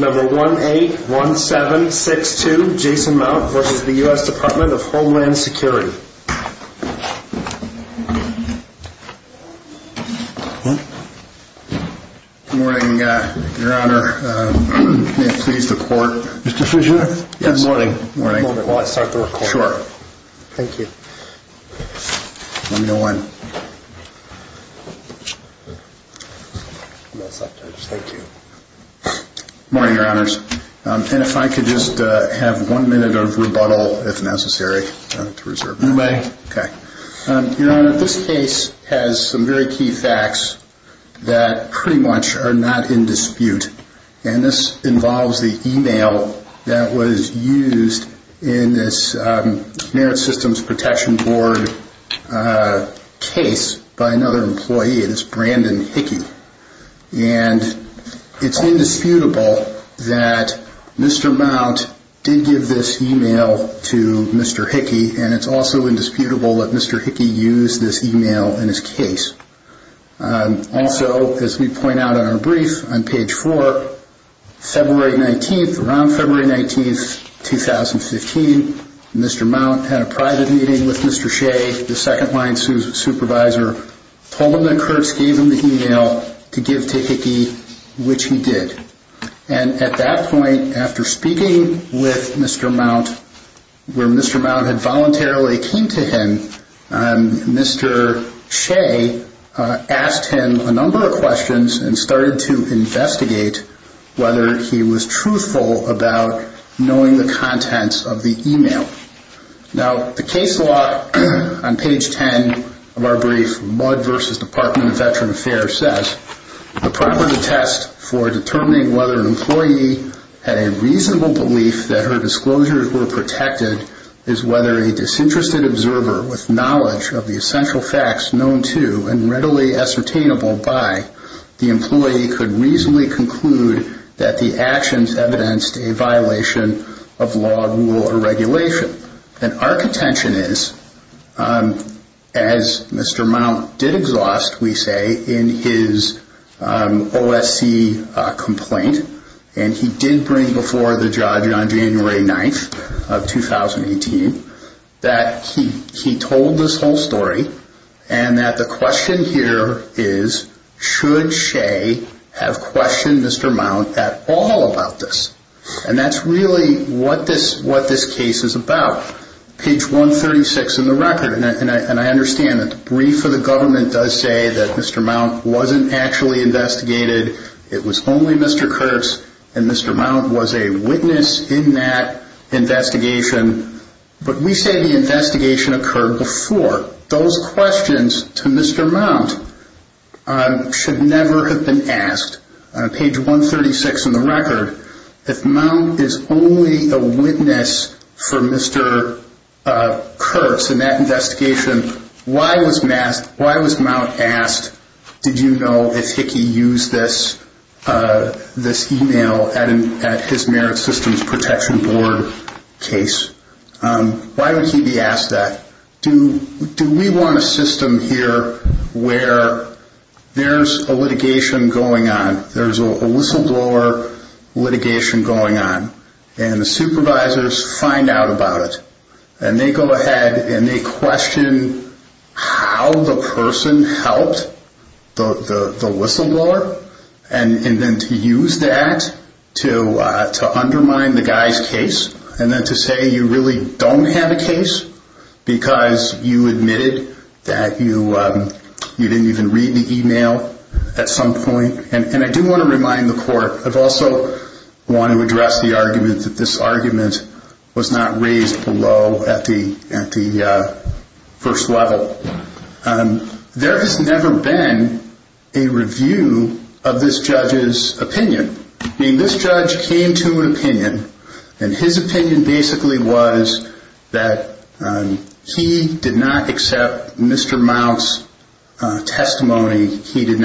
1-817-62 Jason Mount v. U.S. Department of Homeland Security Good morning, Your Honors. And if I could just have one minute of rebuttal, if necessary. You may. Your Honor, this case has some very key facts that pretty much are not in dispute. And this involves the e-mail that was used in this Merit Systems Protection Board case by another employee. And it's Brandon Hickey. And it's indisputable that Mr. Mount did give this e-mail to Mr. Hickey. And it's also indisputable that Mr. Hickey used this e-mail in his case. Also, as we point out in our brief on page 4, February 19th, around February 19th, 2015, Mr. Mount had a private meeting with Mr. Shea, the second-line supervisor, told him that Kurtz gave him the e-mail to give to Hickey, which he did. And at that point, after speaking with Mr. Mount, where Mr. Mount had voluntarily came to him, Mr. Shea asked him a number of questions and started to investigate whether he was truthful about knowing the contents of the e-mail. Now, the case law on page 10 of our brief, Mudd v. Department of Veteran Affairs, says the proper test for determining whether an employee had a reasonable belief that her disclosures were protected is whether a disinterested observer with knowledge of the essential facts known to and readily ascertainable by the employee could reasonably conclude that the actions evidenced a violation of law, rule, or regulation. And our contention is, as Mr. Mount did exhaust, we say, in his OSC complaint, and he did bring before the judge on January 9th of 2018, that he told this whole story and that the question here is, should Shea have questioned Mr. Mount at all about this? And that's really what this case is about. Page 136 in the record, and I understand that the brief of the government does say that Mr. Mount wasn't actually investigated, it was only Mr. Kurtz, and Mr. Mount was a witness in that investigation, but we say the investigation occurred before. Those questions to Mr. Mount should never have been asked. Page 136 in the record, if Mount is only a witness for Mr. Kurtz in that investigation, why was Mount asked, did you know if Hickey used this email at his Merit Systems Protection Board case? Why would he be asked that? Do we want a system here where there's a litigation going on, there's a whistleblower litigation going on, and the supervisors find out about it, and they go ahead and they question how the person helped the whistleblower, and then to use that to undermine the guy's case, and then to say you really don't have a case because you admitted that you didn't even read the email at some point. And I do want to remind the court, I also want to address the argument that this argument was not raised below at the first level. There has never been a review of this judge's opinion. This judge came to an opinion, and his opinion basically was that he did not accept Mr. Mount's testimony. He didn't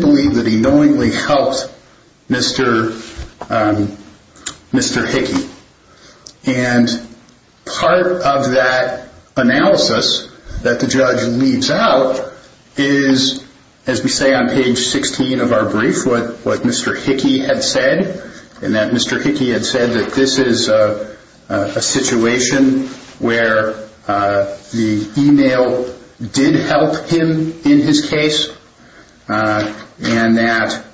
believe that he knowingly helped Mr. Hickey. And part of that analysis that the judge leaves out is, as we say on page 16 of our brief, what Mr. Hickey had said, and that Mr. Hickey had said that this is a situation where the email did help him in his case, and that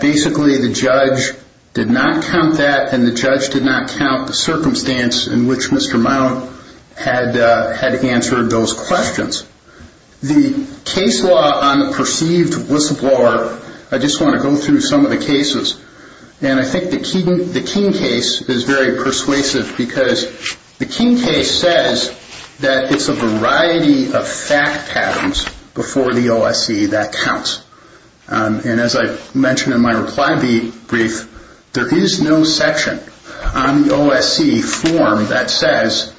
basically the judge did not count that, and the judge did not count the circumstance in which Mr. Mount had answered those questions. The case law on the perceived whistleblower, I just want to go through some of the cases, and I think the King case is very persuasive because the King case says that it's a variety of fact patterns before the OSC that counts. And as I mentioned in my reply brief, there is no section on the OSC form that says,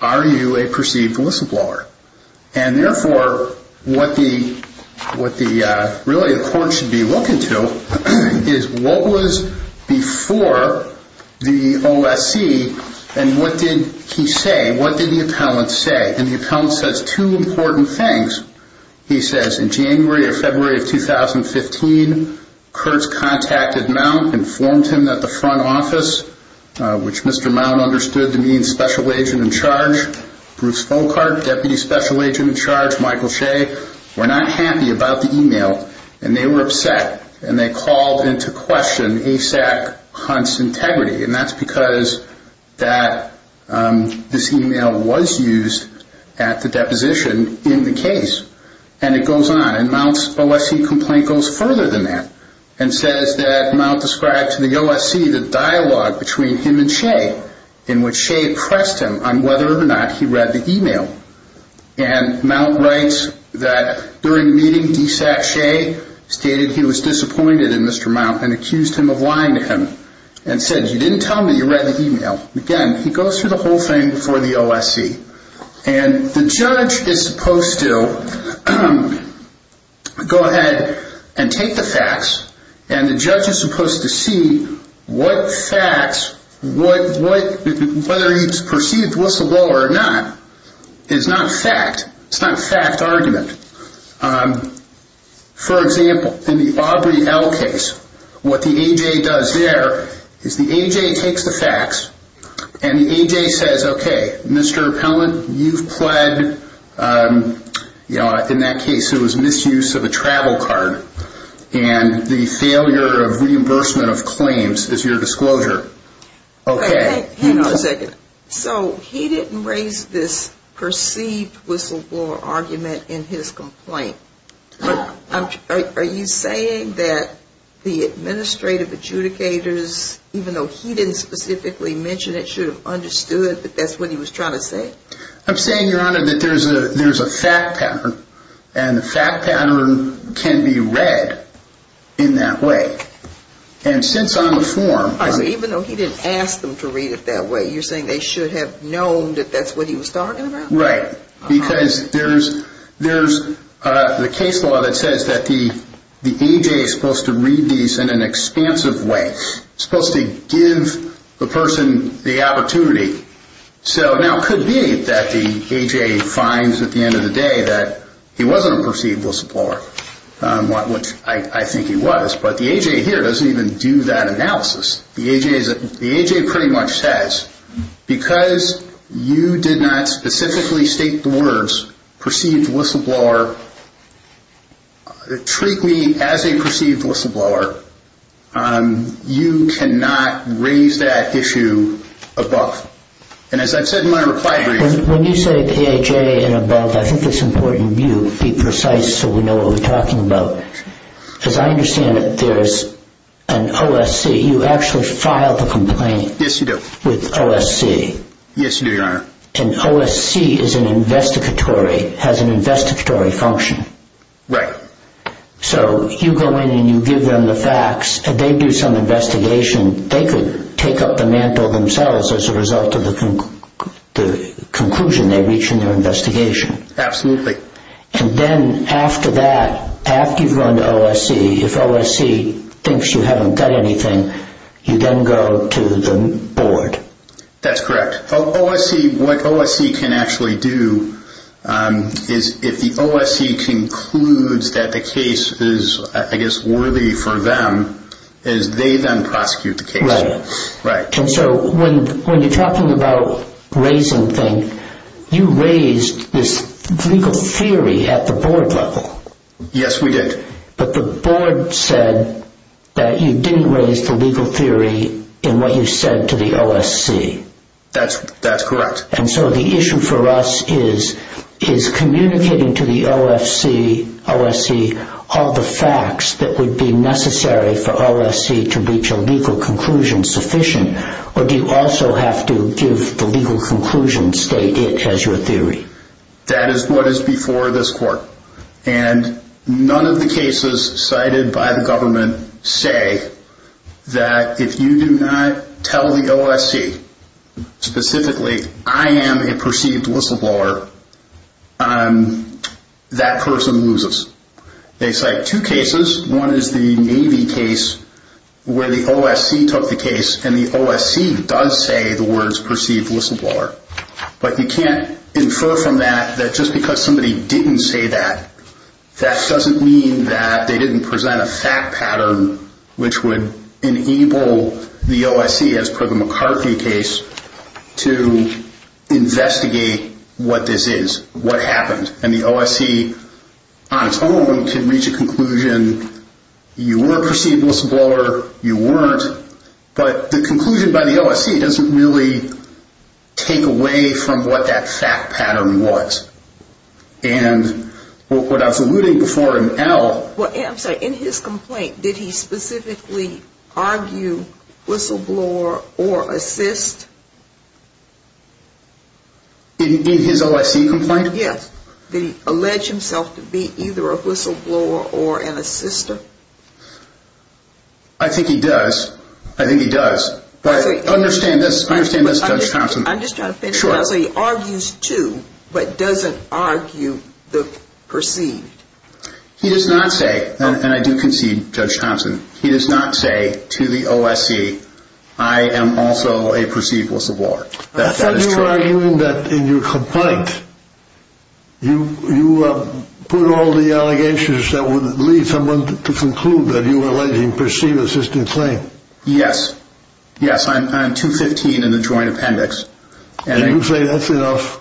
are you a perceived whistleblower? And therefore, what really the court should be looking to is what was before the OSC, and what did he say? What did the appellant say? And the appellant says two important things. He says, in January or February of 2015, Kurtz contacted Mount, informed him that the front office, which Mr. Mount understood to mean special agent in charge, Bruce Folkart, deputy special agent in charge, Michael Shea, were not happy about the email, and they were upset, and they called into question ASAC Hunt's integrity, and that's because this email was used at the deposition in the case. And it goes on, and Mount's OSC complaint goes further than that, and says that Mount described to the OSC the dialogue between him and Shea, in which Shea pressed him on whether or not he read the email. And Mount writes that during the meeting, ASAC Shea stated he was disappointed in Mr. Mount and accused him of lying to him, and said, you didn't tell me you read the email. Again, he goes through the whole thing before the OSC. And the judge is supposed to go ahead and take the facts, and the judge is supposed to see what facts, whether he's perceived whistleblower or not, is not fact. It's not a fact argument. For example, in the Aubrey L. case, what the AJ does there is the AJ takes the facts, and the AJ says, okay, Mr. Appellant, you've pled, you know, in that case it was misuse of a travel card, and the failure of reimbursement of claims is your disclosure. Okay. Hang on a second. So he didn't raise this perceived whistleblower argument in his complaint. Are you saying that the administrative adjudicators, even though he didn't specifically mention it, should have understood that that's what he was trying to say? I'm saying, Your Honor, that there's a fact pattern, and the fact pattern can be read in that way. And since I'm a form... Even though he didn't ask them to read it that way, you're saying they should have known that that's what he was talking about? Right. Because there's the case law that says that the AJ is supposed to read these in an expansive way, supposed to give the person the opportunity. So now it could be that the AJ finds at the end of the day that he wasn't a perceived whistleblower, which I think he was. But the AJ here doesn't even do that analysis. The AJ pretty much says, because you did not specifically state the words perceived whistleblower, treat me as a perceived whistleblower, you cannot raise that issue above. And as I've said in my reply brief... When you say the AJ and above, I think it's important you be precise so we know what we're talking about. As I understand it, there's an OSC. You actually file the complaint with OSC. Yes, you do, Your Honor. And OSC is an investigatory... has an investigatory function. Right. So you go in and you give them the facts, and they do some investigation. They could take up the mantle themselves as a result of the conclusion they reach in their investigation. Absolutely. And then after that, after you've gone to OSC, if OSC thinks you haven't done anything, you then go to the board. That's correct. What OSC can actually do is if the OSC concludes that the case is, I guess, worthy for them, is they then prosecute the case. Right. Right. And so when you're talking about raising things, you raised this legal theory at the board level. Yes, we did. But the board said that you didn't raise the legal theory in what you said to the OSC. That's correct. And so the issue for us is, is communicating to the OSC all the facts that would be necessary for OSC to reach a legal conclusion sufficient, or do you also have to give the legal conclusion, state it as your theory? That is what is before this court. And none of the cases cited by the government say that if you do not tell the OSC, specifically, I am a perceived whistleblower, that person loses. They cite two cases. One is the Navy case where the OSC took the case, and the OSC does say the words perceived whistleblower. But you can't infer from that that just because somebody didn't say that, that doesn't mean that they didn't present a fact pattern which would enable the OSC, as per the McCarthy case, to investigate what this is, what happened. And the OSC, on its own, can reach a conclusion, you were a perceived whistleblower, you weren't. But the conclusion by the OSC doesn't really take away from what that fact pattern was. And what I was alluding before in Al... Well, I'm sorry, in his complaint, did he specifically argue whistleblower or assist? In his OSC complaint? Yes. Did he allege himself to be either a whistleblower or an assister? I think he does. I think he does. But understand this, understand this, Judge Thompson. I'm just trying to finish. Sure. He argues two, but doesn't argue the perceived. He does not say, and I do concede, Judge Thompson, he does not say to the OSC, I am also a perceived whistleblower. I thought you were arguing that in your complaint, you put all the allegations that would lead someone to conclude that you were alleging perceived assistant claim. Yes. Yes, I'm 215 in the joint appendix. And you say that's enough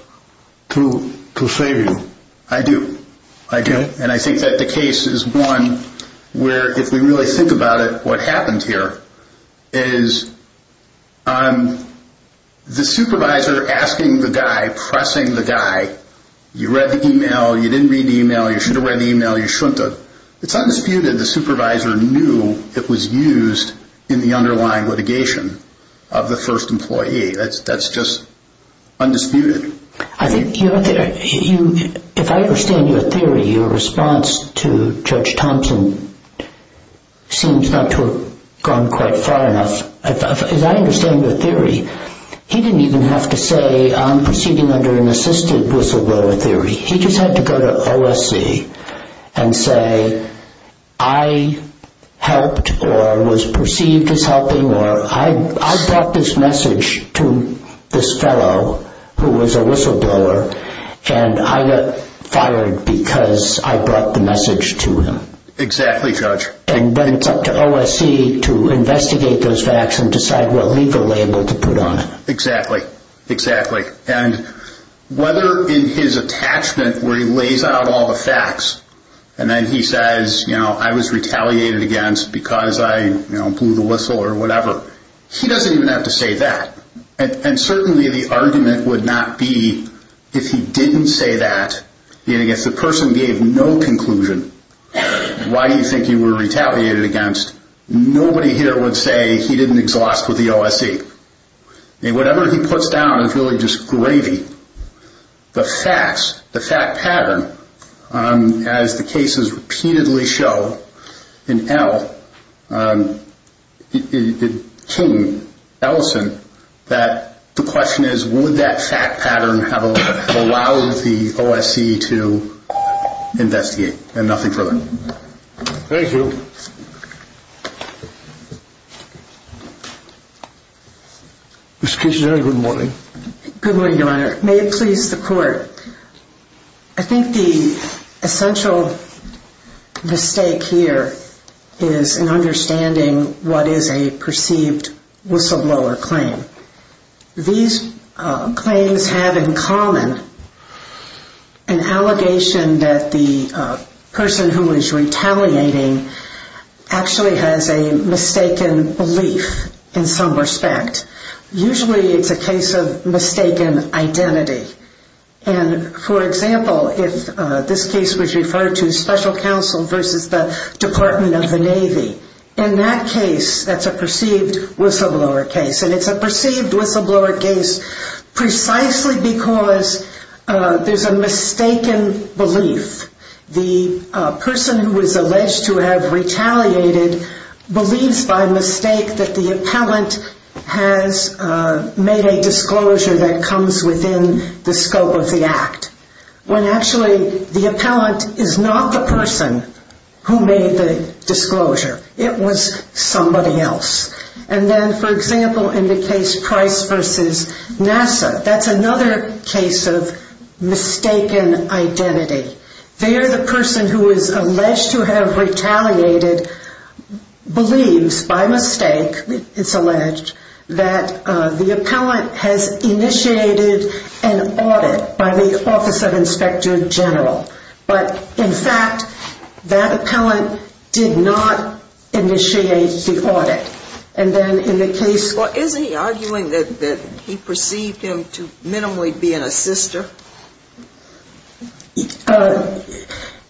to save you. I do. I do. And I think that the case is one where, if we really think about it, what happened here is the supervisor asking the guy, pressing the guy, you read the email, you didn't read the email, you should have read the email, you shouldn't have. It's undisputed the supervisor knew it was used in the underlying litigation of the first employee. That's just undisputed. If I understand your theory, your response to Judge Thompson seems not to have gone quite far enough. As I understand your theory, he didn't even have to say, I'm proceeding under an assisted whistleblower theory. He just had to go to OSC and say, I helped or was perceived as helping, or I brought this message to this fellow who was a whistleblower, and I got fired because I brought the message to him. Exactly, Judge. And then it's up to OSC to investigate those facts and decide what legal label to put on it. Exactly. Exactly. And whether in his attachment where he lays out all the facts, and then he says, I was retaliated against because I blew the whistle or whatever, he doesn't even have to say that. And certainly the argument would not be if he didn't say that, if the person gave no conclusion, why do you think you were retaliated against, nobody here would say he didn't exhaust with the OSC. Whatever he puts down is really just gravy. The facts, the fact pattern, as the cases repeatedly show in L, King, Ellison, that the question is, would that fact pattern have allowed the OSC to investigate? And nothing further. Thank you. Mr. Kitchener, good morning. Good morning, Your Honor. May it please the court. I think the essential mistake here is in understanding what is a perceived whistleblower claim. These claims have in common an allegation that the person who is retaliating actually has a mistaken belief in some respect. Usually it's a case of mistaken identity. And, for example, if this case was referred to special counsel versus the Department of the Navy, in that case, that's a perceived whistleblower case. And it's a perceived whistleblower case precisely because there's a mistaken belief. The person who is alleged to have retaliated believes by mistake that the appellant has made a disclosure that comes within the scope of the act, when actually the appellant is not the person who made the disclosure. It was somebody else. And then, for example, in the case Price versus NASA, that's another case of mistaken identity. There the person who is alleged to have retaliated believes by mistake, it's alleged, that the appellant has initiated an audit by the Office of Inspector General. But, in fact, that appellant did not initiate the audit. Well, isn't he arguing that he perceived him to minimally be an assister?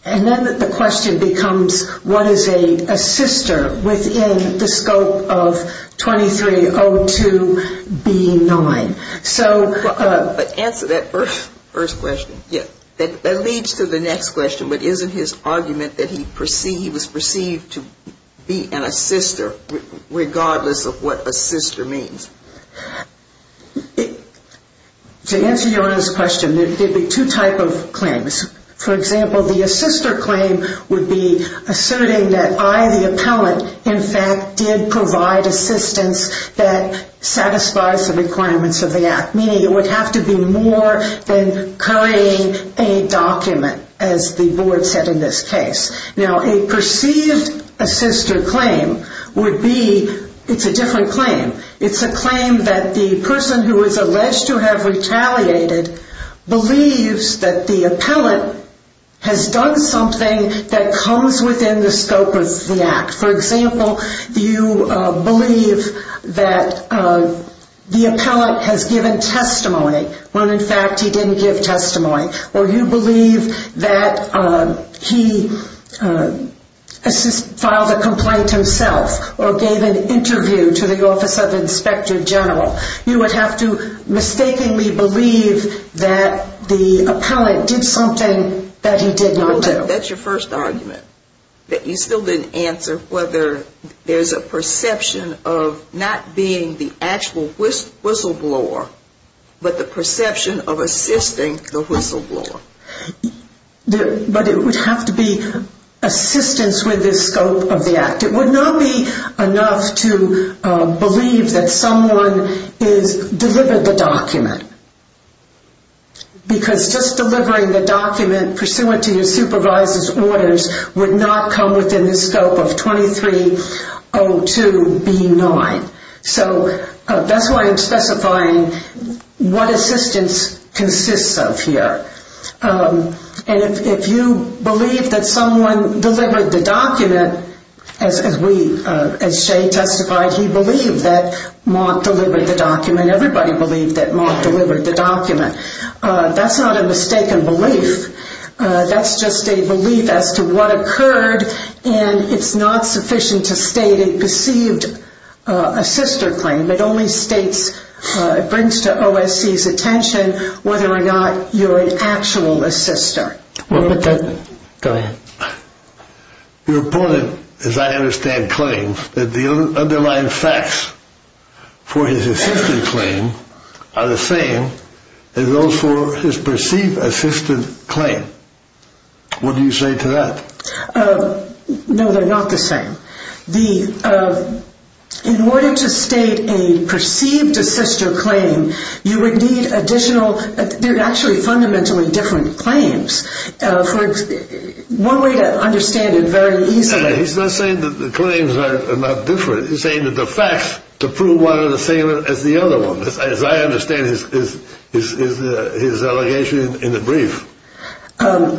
And then the question becomes, what is an assister within the scope of 2302B9? Answer that first question. That leads to the next question, but isn't his argument that he was perceived to be an assister regardless of what assister means? To answer your earlier question, there would be two types of claims. For example, the assister claim would be asserting that I, the appellant, in fact did provide assistance that satisfies the requirements of the act, meaning it would have to be more than carrying a document, as the board said in this case. Now, a perceived assister claim would be, it's a different claim. It's a claim that the person who is alleged to have retaliated believes that the appellant has done something that comes within the scope of the act. For example, you believe that the appellant has given testimony, when in fact he didn't give testimony. Or you believe that he filed a complaint himself or gave an interview to the Office of Inspector General. You would have to mistakenly believe that the appellant did something that he did not do. That's your first argument, that you still didn't answer whether there's a perception of not being the actual whistleblower, but the perception of assisting the whistleblower. But it would have to be assistance with the scope of the act. It would not be enough to believe that someone has delivered the document. Because just delivering the document pursuant to your supervisor's orders would not come within the scope of 2302B9. So that's why I'm specifying what assistance consists of here. And if you believe that someone delivered the document, as Shay testified, he believed that Mark delivered the document. Everybody believed that Mark delivered the document. That's not a mistaken belief. That's just a belief as to what occurred, and it's not sufficient to state a perceived assister claim. It only states, it brings to OSC's attention whether or not you're an actual assister. Go ahead. Your opponent, as I understand claims, that the underlying facts for his assisted claim are the same as those for his perceived assisted claim. What do you say to that? No, they're not the same. In order to state a perceived assister claim, you would need additional, they're actually fundamentally different claims. One way to understand it very easily. He's not saying that the claims are not different. He's saying that the facts to prove one are the same as the other one. As I understand his allegation in the brief. I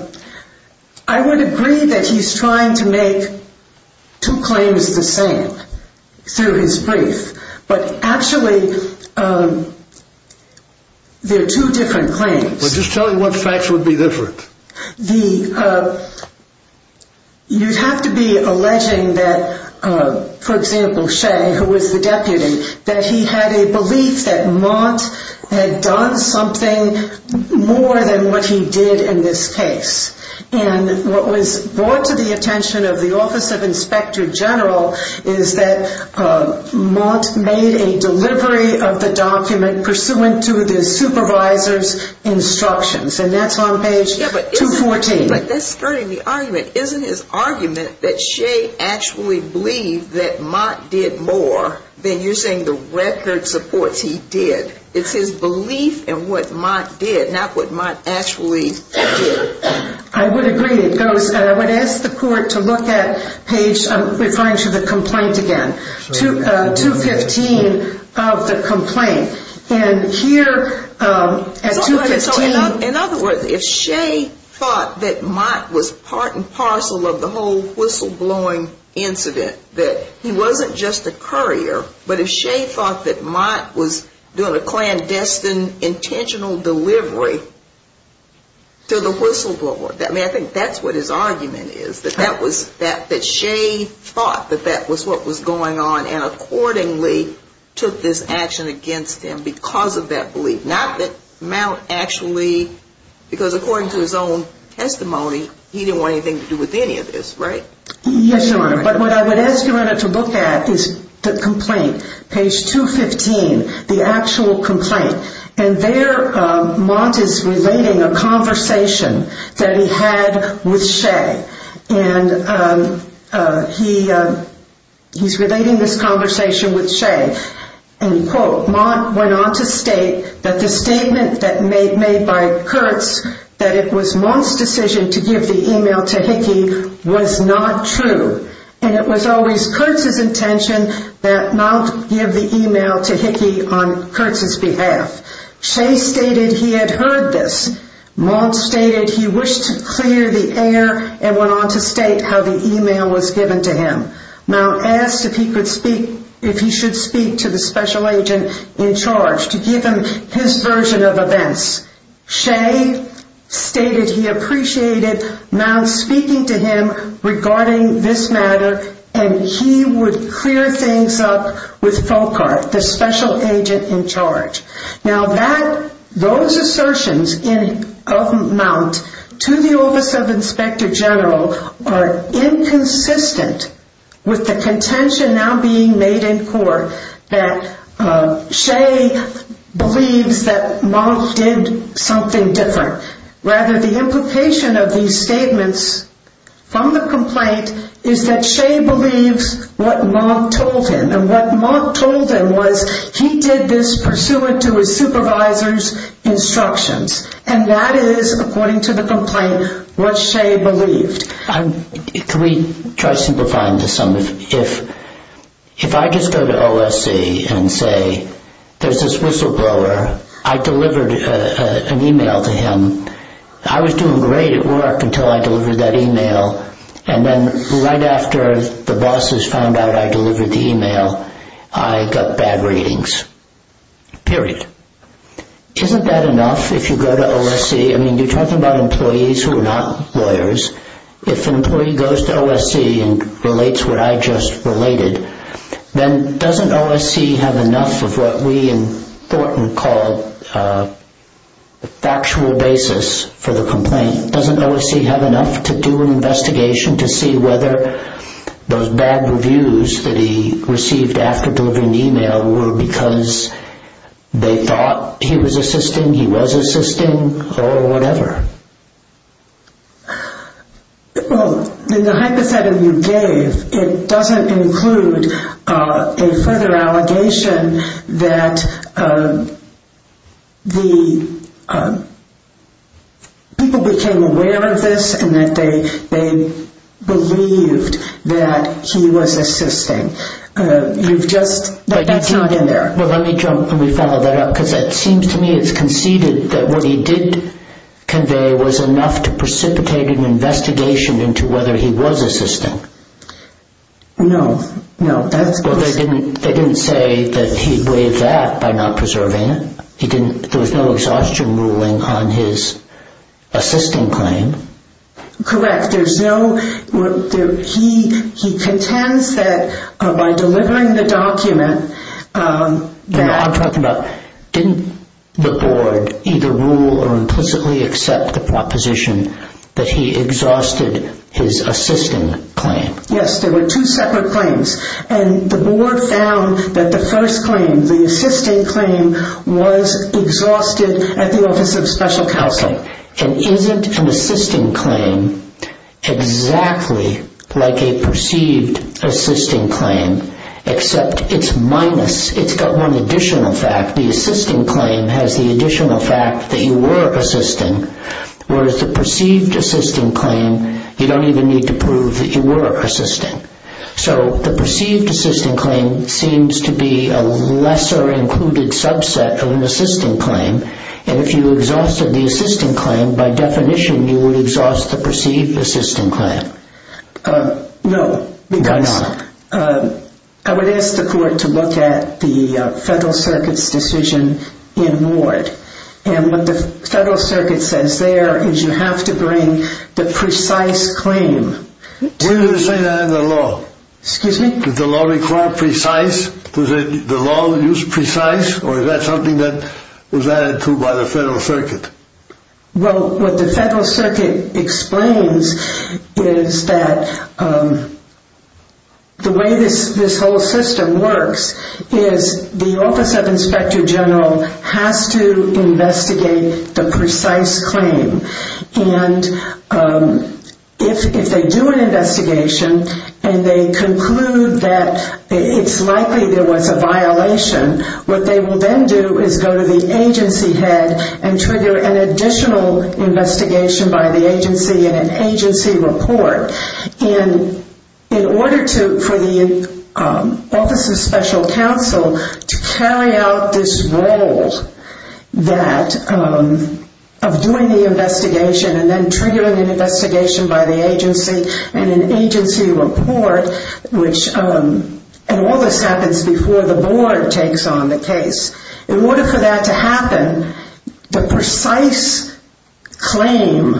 would agree that he's trying to make two claims the same through his brief, but actually they're two different claims. Just tell me what facts would be different. You'd have to be alleging that, for example, Shay, who was the deputy, that he had a belief that Mott had done something more than what he did in this case. And what was brought to the attention of the Office of Inspector General is that Mott made a delivery of the document pursuant to the supervisor's instructions. And that's on page 214. But that's skirting the argument. It isn't his argument that Shay actually believed that Mott did more than using the record supports he did. It's his belief in what Mott did, not what Mott actually did. I would agree. I would ask the court to look at page, referring to the complaint again, 215 of the complaint. In other words, if Shay thought that Mott was part and parcel of the whole whistleblowing incident, that he wasn't just a courier, but if Shay thought that Mott was doing a clandestine intentional delivery to the whistleblower, I think that's what his argument is, that Shay thought that that was what was going on and accordingly took this action against him because of that belief. Not that Mott actually, because according to his own testimony, he didn't want anything to do with any of this, right? Yes, Your Honor. But what I would ask Your Honor to look at is the complaint, page 215, the actual complaint. And there Mott is relating a conversation that he had with Shay. And he's relating this conversation with Shay. And, quote, Mott went on to state that the statement made by Kurtz, that it was Mott's decision to give the email to Hickey, was not true. And it was always Kurtz's intention that Mott give the email to Hickey on Kurtz's behalf. Shay stated he had heard this. Mott stated he wished to clear the air and went on to state how the email was given to him. Mott asked if he should speak to the special agent in charge to give him his version of events. Shay stated he appreciated Mott speaking to him regarding this matter and he would clear things up with Foucault, the special agent in charge. Now, those assertions of Mott to the office of Inspector General are inconsistent with the contention now being made in court that Shay believes that Mott did something different. Rather, the implication of these statements from the complaint is that Shay believes what Mott told him. And what Mott told him was he did this pursuant to his supervisor's instructions. And that is, according to the complaint, what Shay believed. Can we try simplifying this some? If I just go to OSC and say there's this whistleblower. I delivered an email to him. I was doing great at work until I delivered that email. And then right after the bosses found out I delivered the email, I got bad readings. Period. Isn't that enough if you go to OSC? I mean, you're talking about employees who are not lawyers. If an employee goes to OSC and relates what I just related, then doesn't OSC have enough of what we in Thornton call a factual basis for the complaint? Doesn't OSC have enough to do an investigation to see whether those bad reviews that he received after delivering the email were because they thought he was assisting, he was assisting, or whatever? Well, in the hypothetical you gave, it doesn't include a further allegation that the people became aware of this and that they believed that he was assisting. You've just, that's not in there. Well, let me follow that up because it seems to me it's conceded that what he did convey was enough to precipitate an investigation into whether he was assisting. No, no. They didn't say that he believed that by not preserving it. There was no exhaustion ruling on his assisting claim. Correct. He contends that by delivering the document that... I'm talking about, didn't the board either rule or implicitly accept the proposition that he exhausted his assisting claim? Yes, there were two separate claims. And the board found that the first claim, the assisting claim, was exhausted at the Office of Special Counseling. And isn't an assisting claim exactly like a perceived assisting claim except it's minus, it's got one additional fact. The assisting claim has the additional fact that you were assisting whereas the perceived assisting claim you don't even need to prove that you were assisting. So the perceived assisting claim seems to be a lesser included subset of an assisting claim and if you exhausted the assisting claim, by definition you would exhaust the perceived assisting claim. No, because I would ask the court to look at the Federal Circuit's decision in Ward. And what the Federal Circuit says there is you have to bring the precise claim. When did they say that in the law? Excuse me? Did the law require precise? Was the law used precise or is that something that was added to by the Federal Circuit? Well, what the Federal Circuit explains is that the way this whole system works is the Office of Inspector General has to investigate the precise claim. And if they do an investigation and they conclude that it's likely there was a violation, what they will then do is go to the agency head and trigger an additional investigation by the agency in an agency report. In order for the Office of Special Counsel to carry out this role of doing the investigation and then triggering an investigation by the agency and an agency report, and all this happens before the board takes on the case, in order for that to happen, the precise claim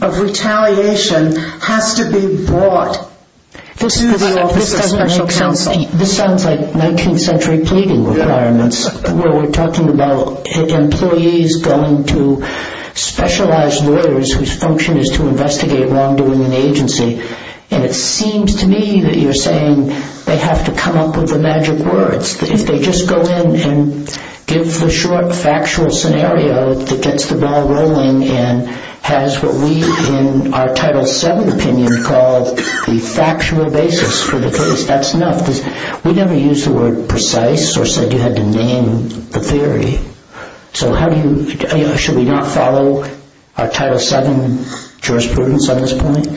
of retaliation has to be brought to the Office of Special Counsel. This sounds like 19th century pleading requirements, where we're talking about employees going to specialized lawyers whose function is to investigate wrongdoing in the agency. And it seems to me that you're saying they have to come up with the magic words, that if they just go in and give the short factual scenario that gets the ball rolling and has what we, in our Title VII opinion, call the factual basis for the case, that's enough. We never used the word precise or said you had to name the theory. So how do you, should we not follow our Title VII jurisprudence on this point?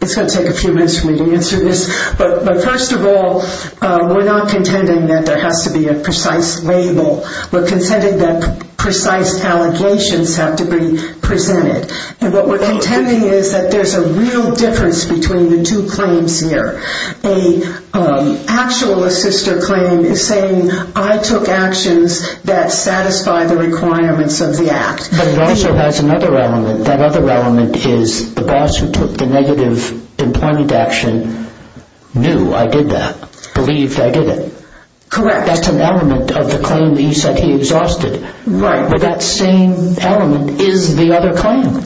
It's going to take a few minutes for me to answer this. But first of all, we're not contending that there has to be a precise label. We're contending that precise allegations have to be presented. And what we're contending is that there's a real difference between the two claims here. An actual assister claim is saying I took actions that satisfy the requirements of the act. But it also has another element. That other element is the boss who took the negative employment action knew I did that, believed I did it. Correct. That's an element of the claim that you said he exhausted. Right. But that same element is the other claim.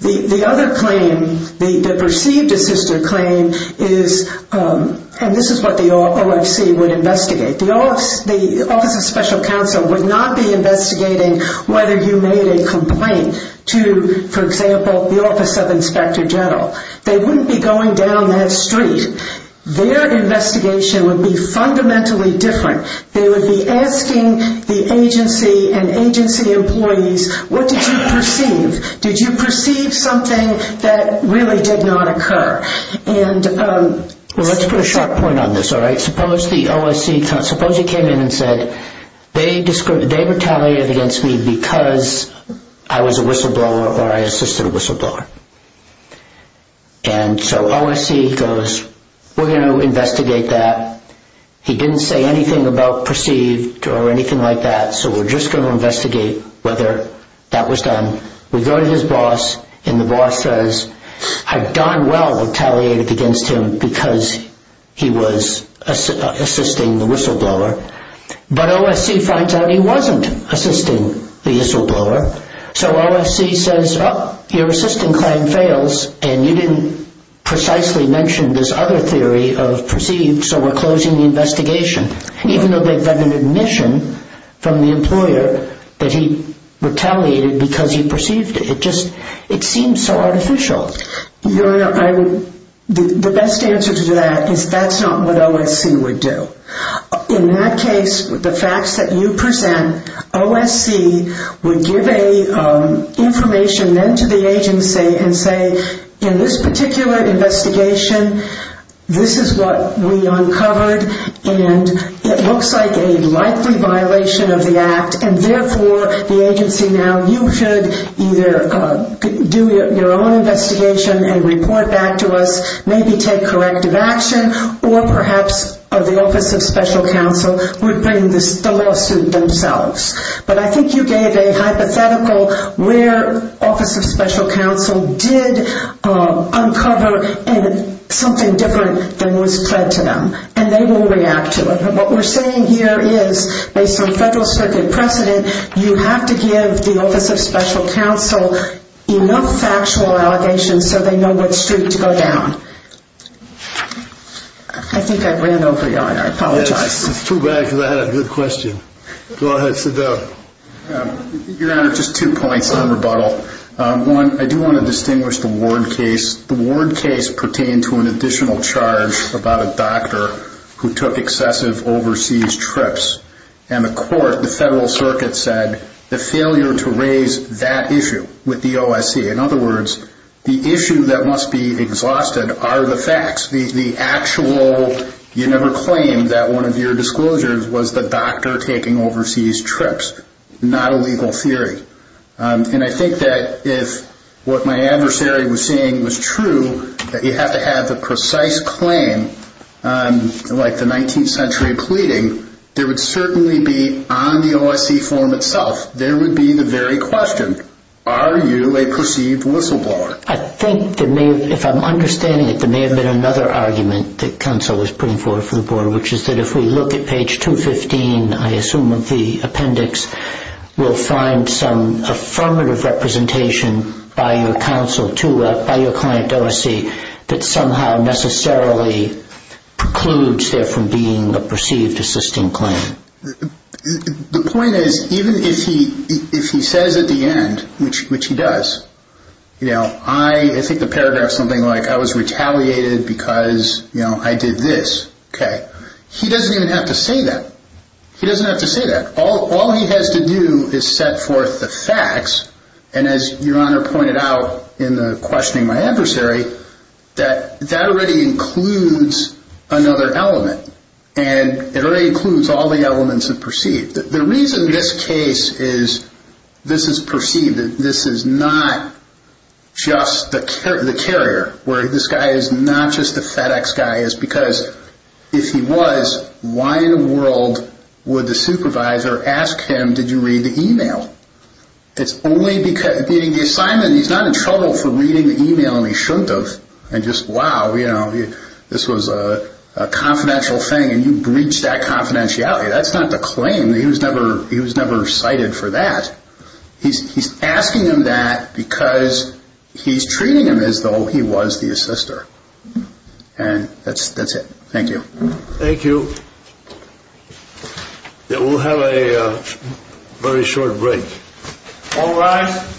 The other claim, the perceived assister claim is, and this is what the OFC would investigate, the Office of Special Counsel would not be investigating whether you made a complaint to, for example, the Office of Inspector General. They wouldn't be going down that street. Their investigation would be fundamentally different. They would be asking the agency and agency employees, what did you perceive? Did you perceive something that really did not occur? Well, let's put a sharp point on this, all right? Suppose he came in and said they retaliated against me because I was a whistleblower or I assisted a whistleblower. And so OFC goes, we're going to investigate that. He didn't say anything about perceived or anything like that, so we're just going to investigate whether that was done. We go to his boss, and the boss says, I've done well retaliating against him because he was assisting the whistleblower. But OFC finds out he wasn't assisting the whistleblower. So OFC says, oh, your assisting claim fails, and you didn't precisely mention this other theory of perceived, so we're closing the investigation. Even though they've got an admission from the employer that he retaliated because he perceived it. It just seems so artificial. Your Honor, the best answer to that is that's not what OFC would do. In that case, the facts that you present, OFC would give information then to the agency and say, in this particular investigation, this is what we uncovered, and it looks like a likely violation of the act, and therefore the agency now, you should either do your own investigation and report back to us, maybe take corrective action, or perhaps the Office of Special Counsel would bring the lawsuit themselves. But I think you gave a hypothetical where OFC did uncover something different than was fed to them. And they will react to it. What we're saying here is, based on Federal Circuit precedent, you have to give the Office of Special Counsel enough factual allegations so they know which street to go down. I think I ran over you, Your Honor. I apologize. It's too bad because I had a good question. Go ahead, sit down. Your Honor, just two points in rebuttal. One, I do want to distinguish the Ward case. The Ward case pertained to an additional charge about a doctor who took excessive overseas trips. And the court, the Federal Circuit, said the failure to raise that issue with the OSC, in other words, the issue that must be exhausted are the facts, the actual, you never claimed that one of your disclosures was the doctor taking overseas trips, not a legal theory. And I think that if what my adversary was saying was true, that you have to have the precise claim, like the 19th century pleading, there would certainly be on the OSC form itself, there would be the very question, are you a perceived whistleblower? I think there may, if I'm understanding it, there may have been another argument that counsel was putting forward for the Board, which is that if we look at page 215, I assume, of the appendix, we'll find some affirmative representation by your counsel to, by your client OSC, that somehow necessarily precludes there from being a perceived assisting claim. The point is, even if he says at the end, which he does, you know, I think the paragraph is something like, I was retaliated because, you know, I did this, okay. He doesn't even have to say that. He doesn't have to say that. All he has to do is set forth the facts, and as your Honor pointed out in the questioning my adversary, that that already includes another element, and it already includes all the elements of perceived. The reason this case is, this is perceived, this is not just the carrier, where this guy is not just the FedEx guy, is because if he was, why in the world would the supervisor ask him, did you read the e-mail? It's only because, meaning the assignment, he's not in trouble for reading the e-mail, and he shouldn't have, and just, wow, you know, this was a confidential thing, and you breached that confidentiality. That's not the claim. He was never cited for that. He's asking him that because he's treating him as though he was the assister, and that's it. Thank you. Thank you. We'll have a very short break. All rise. Thank you.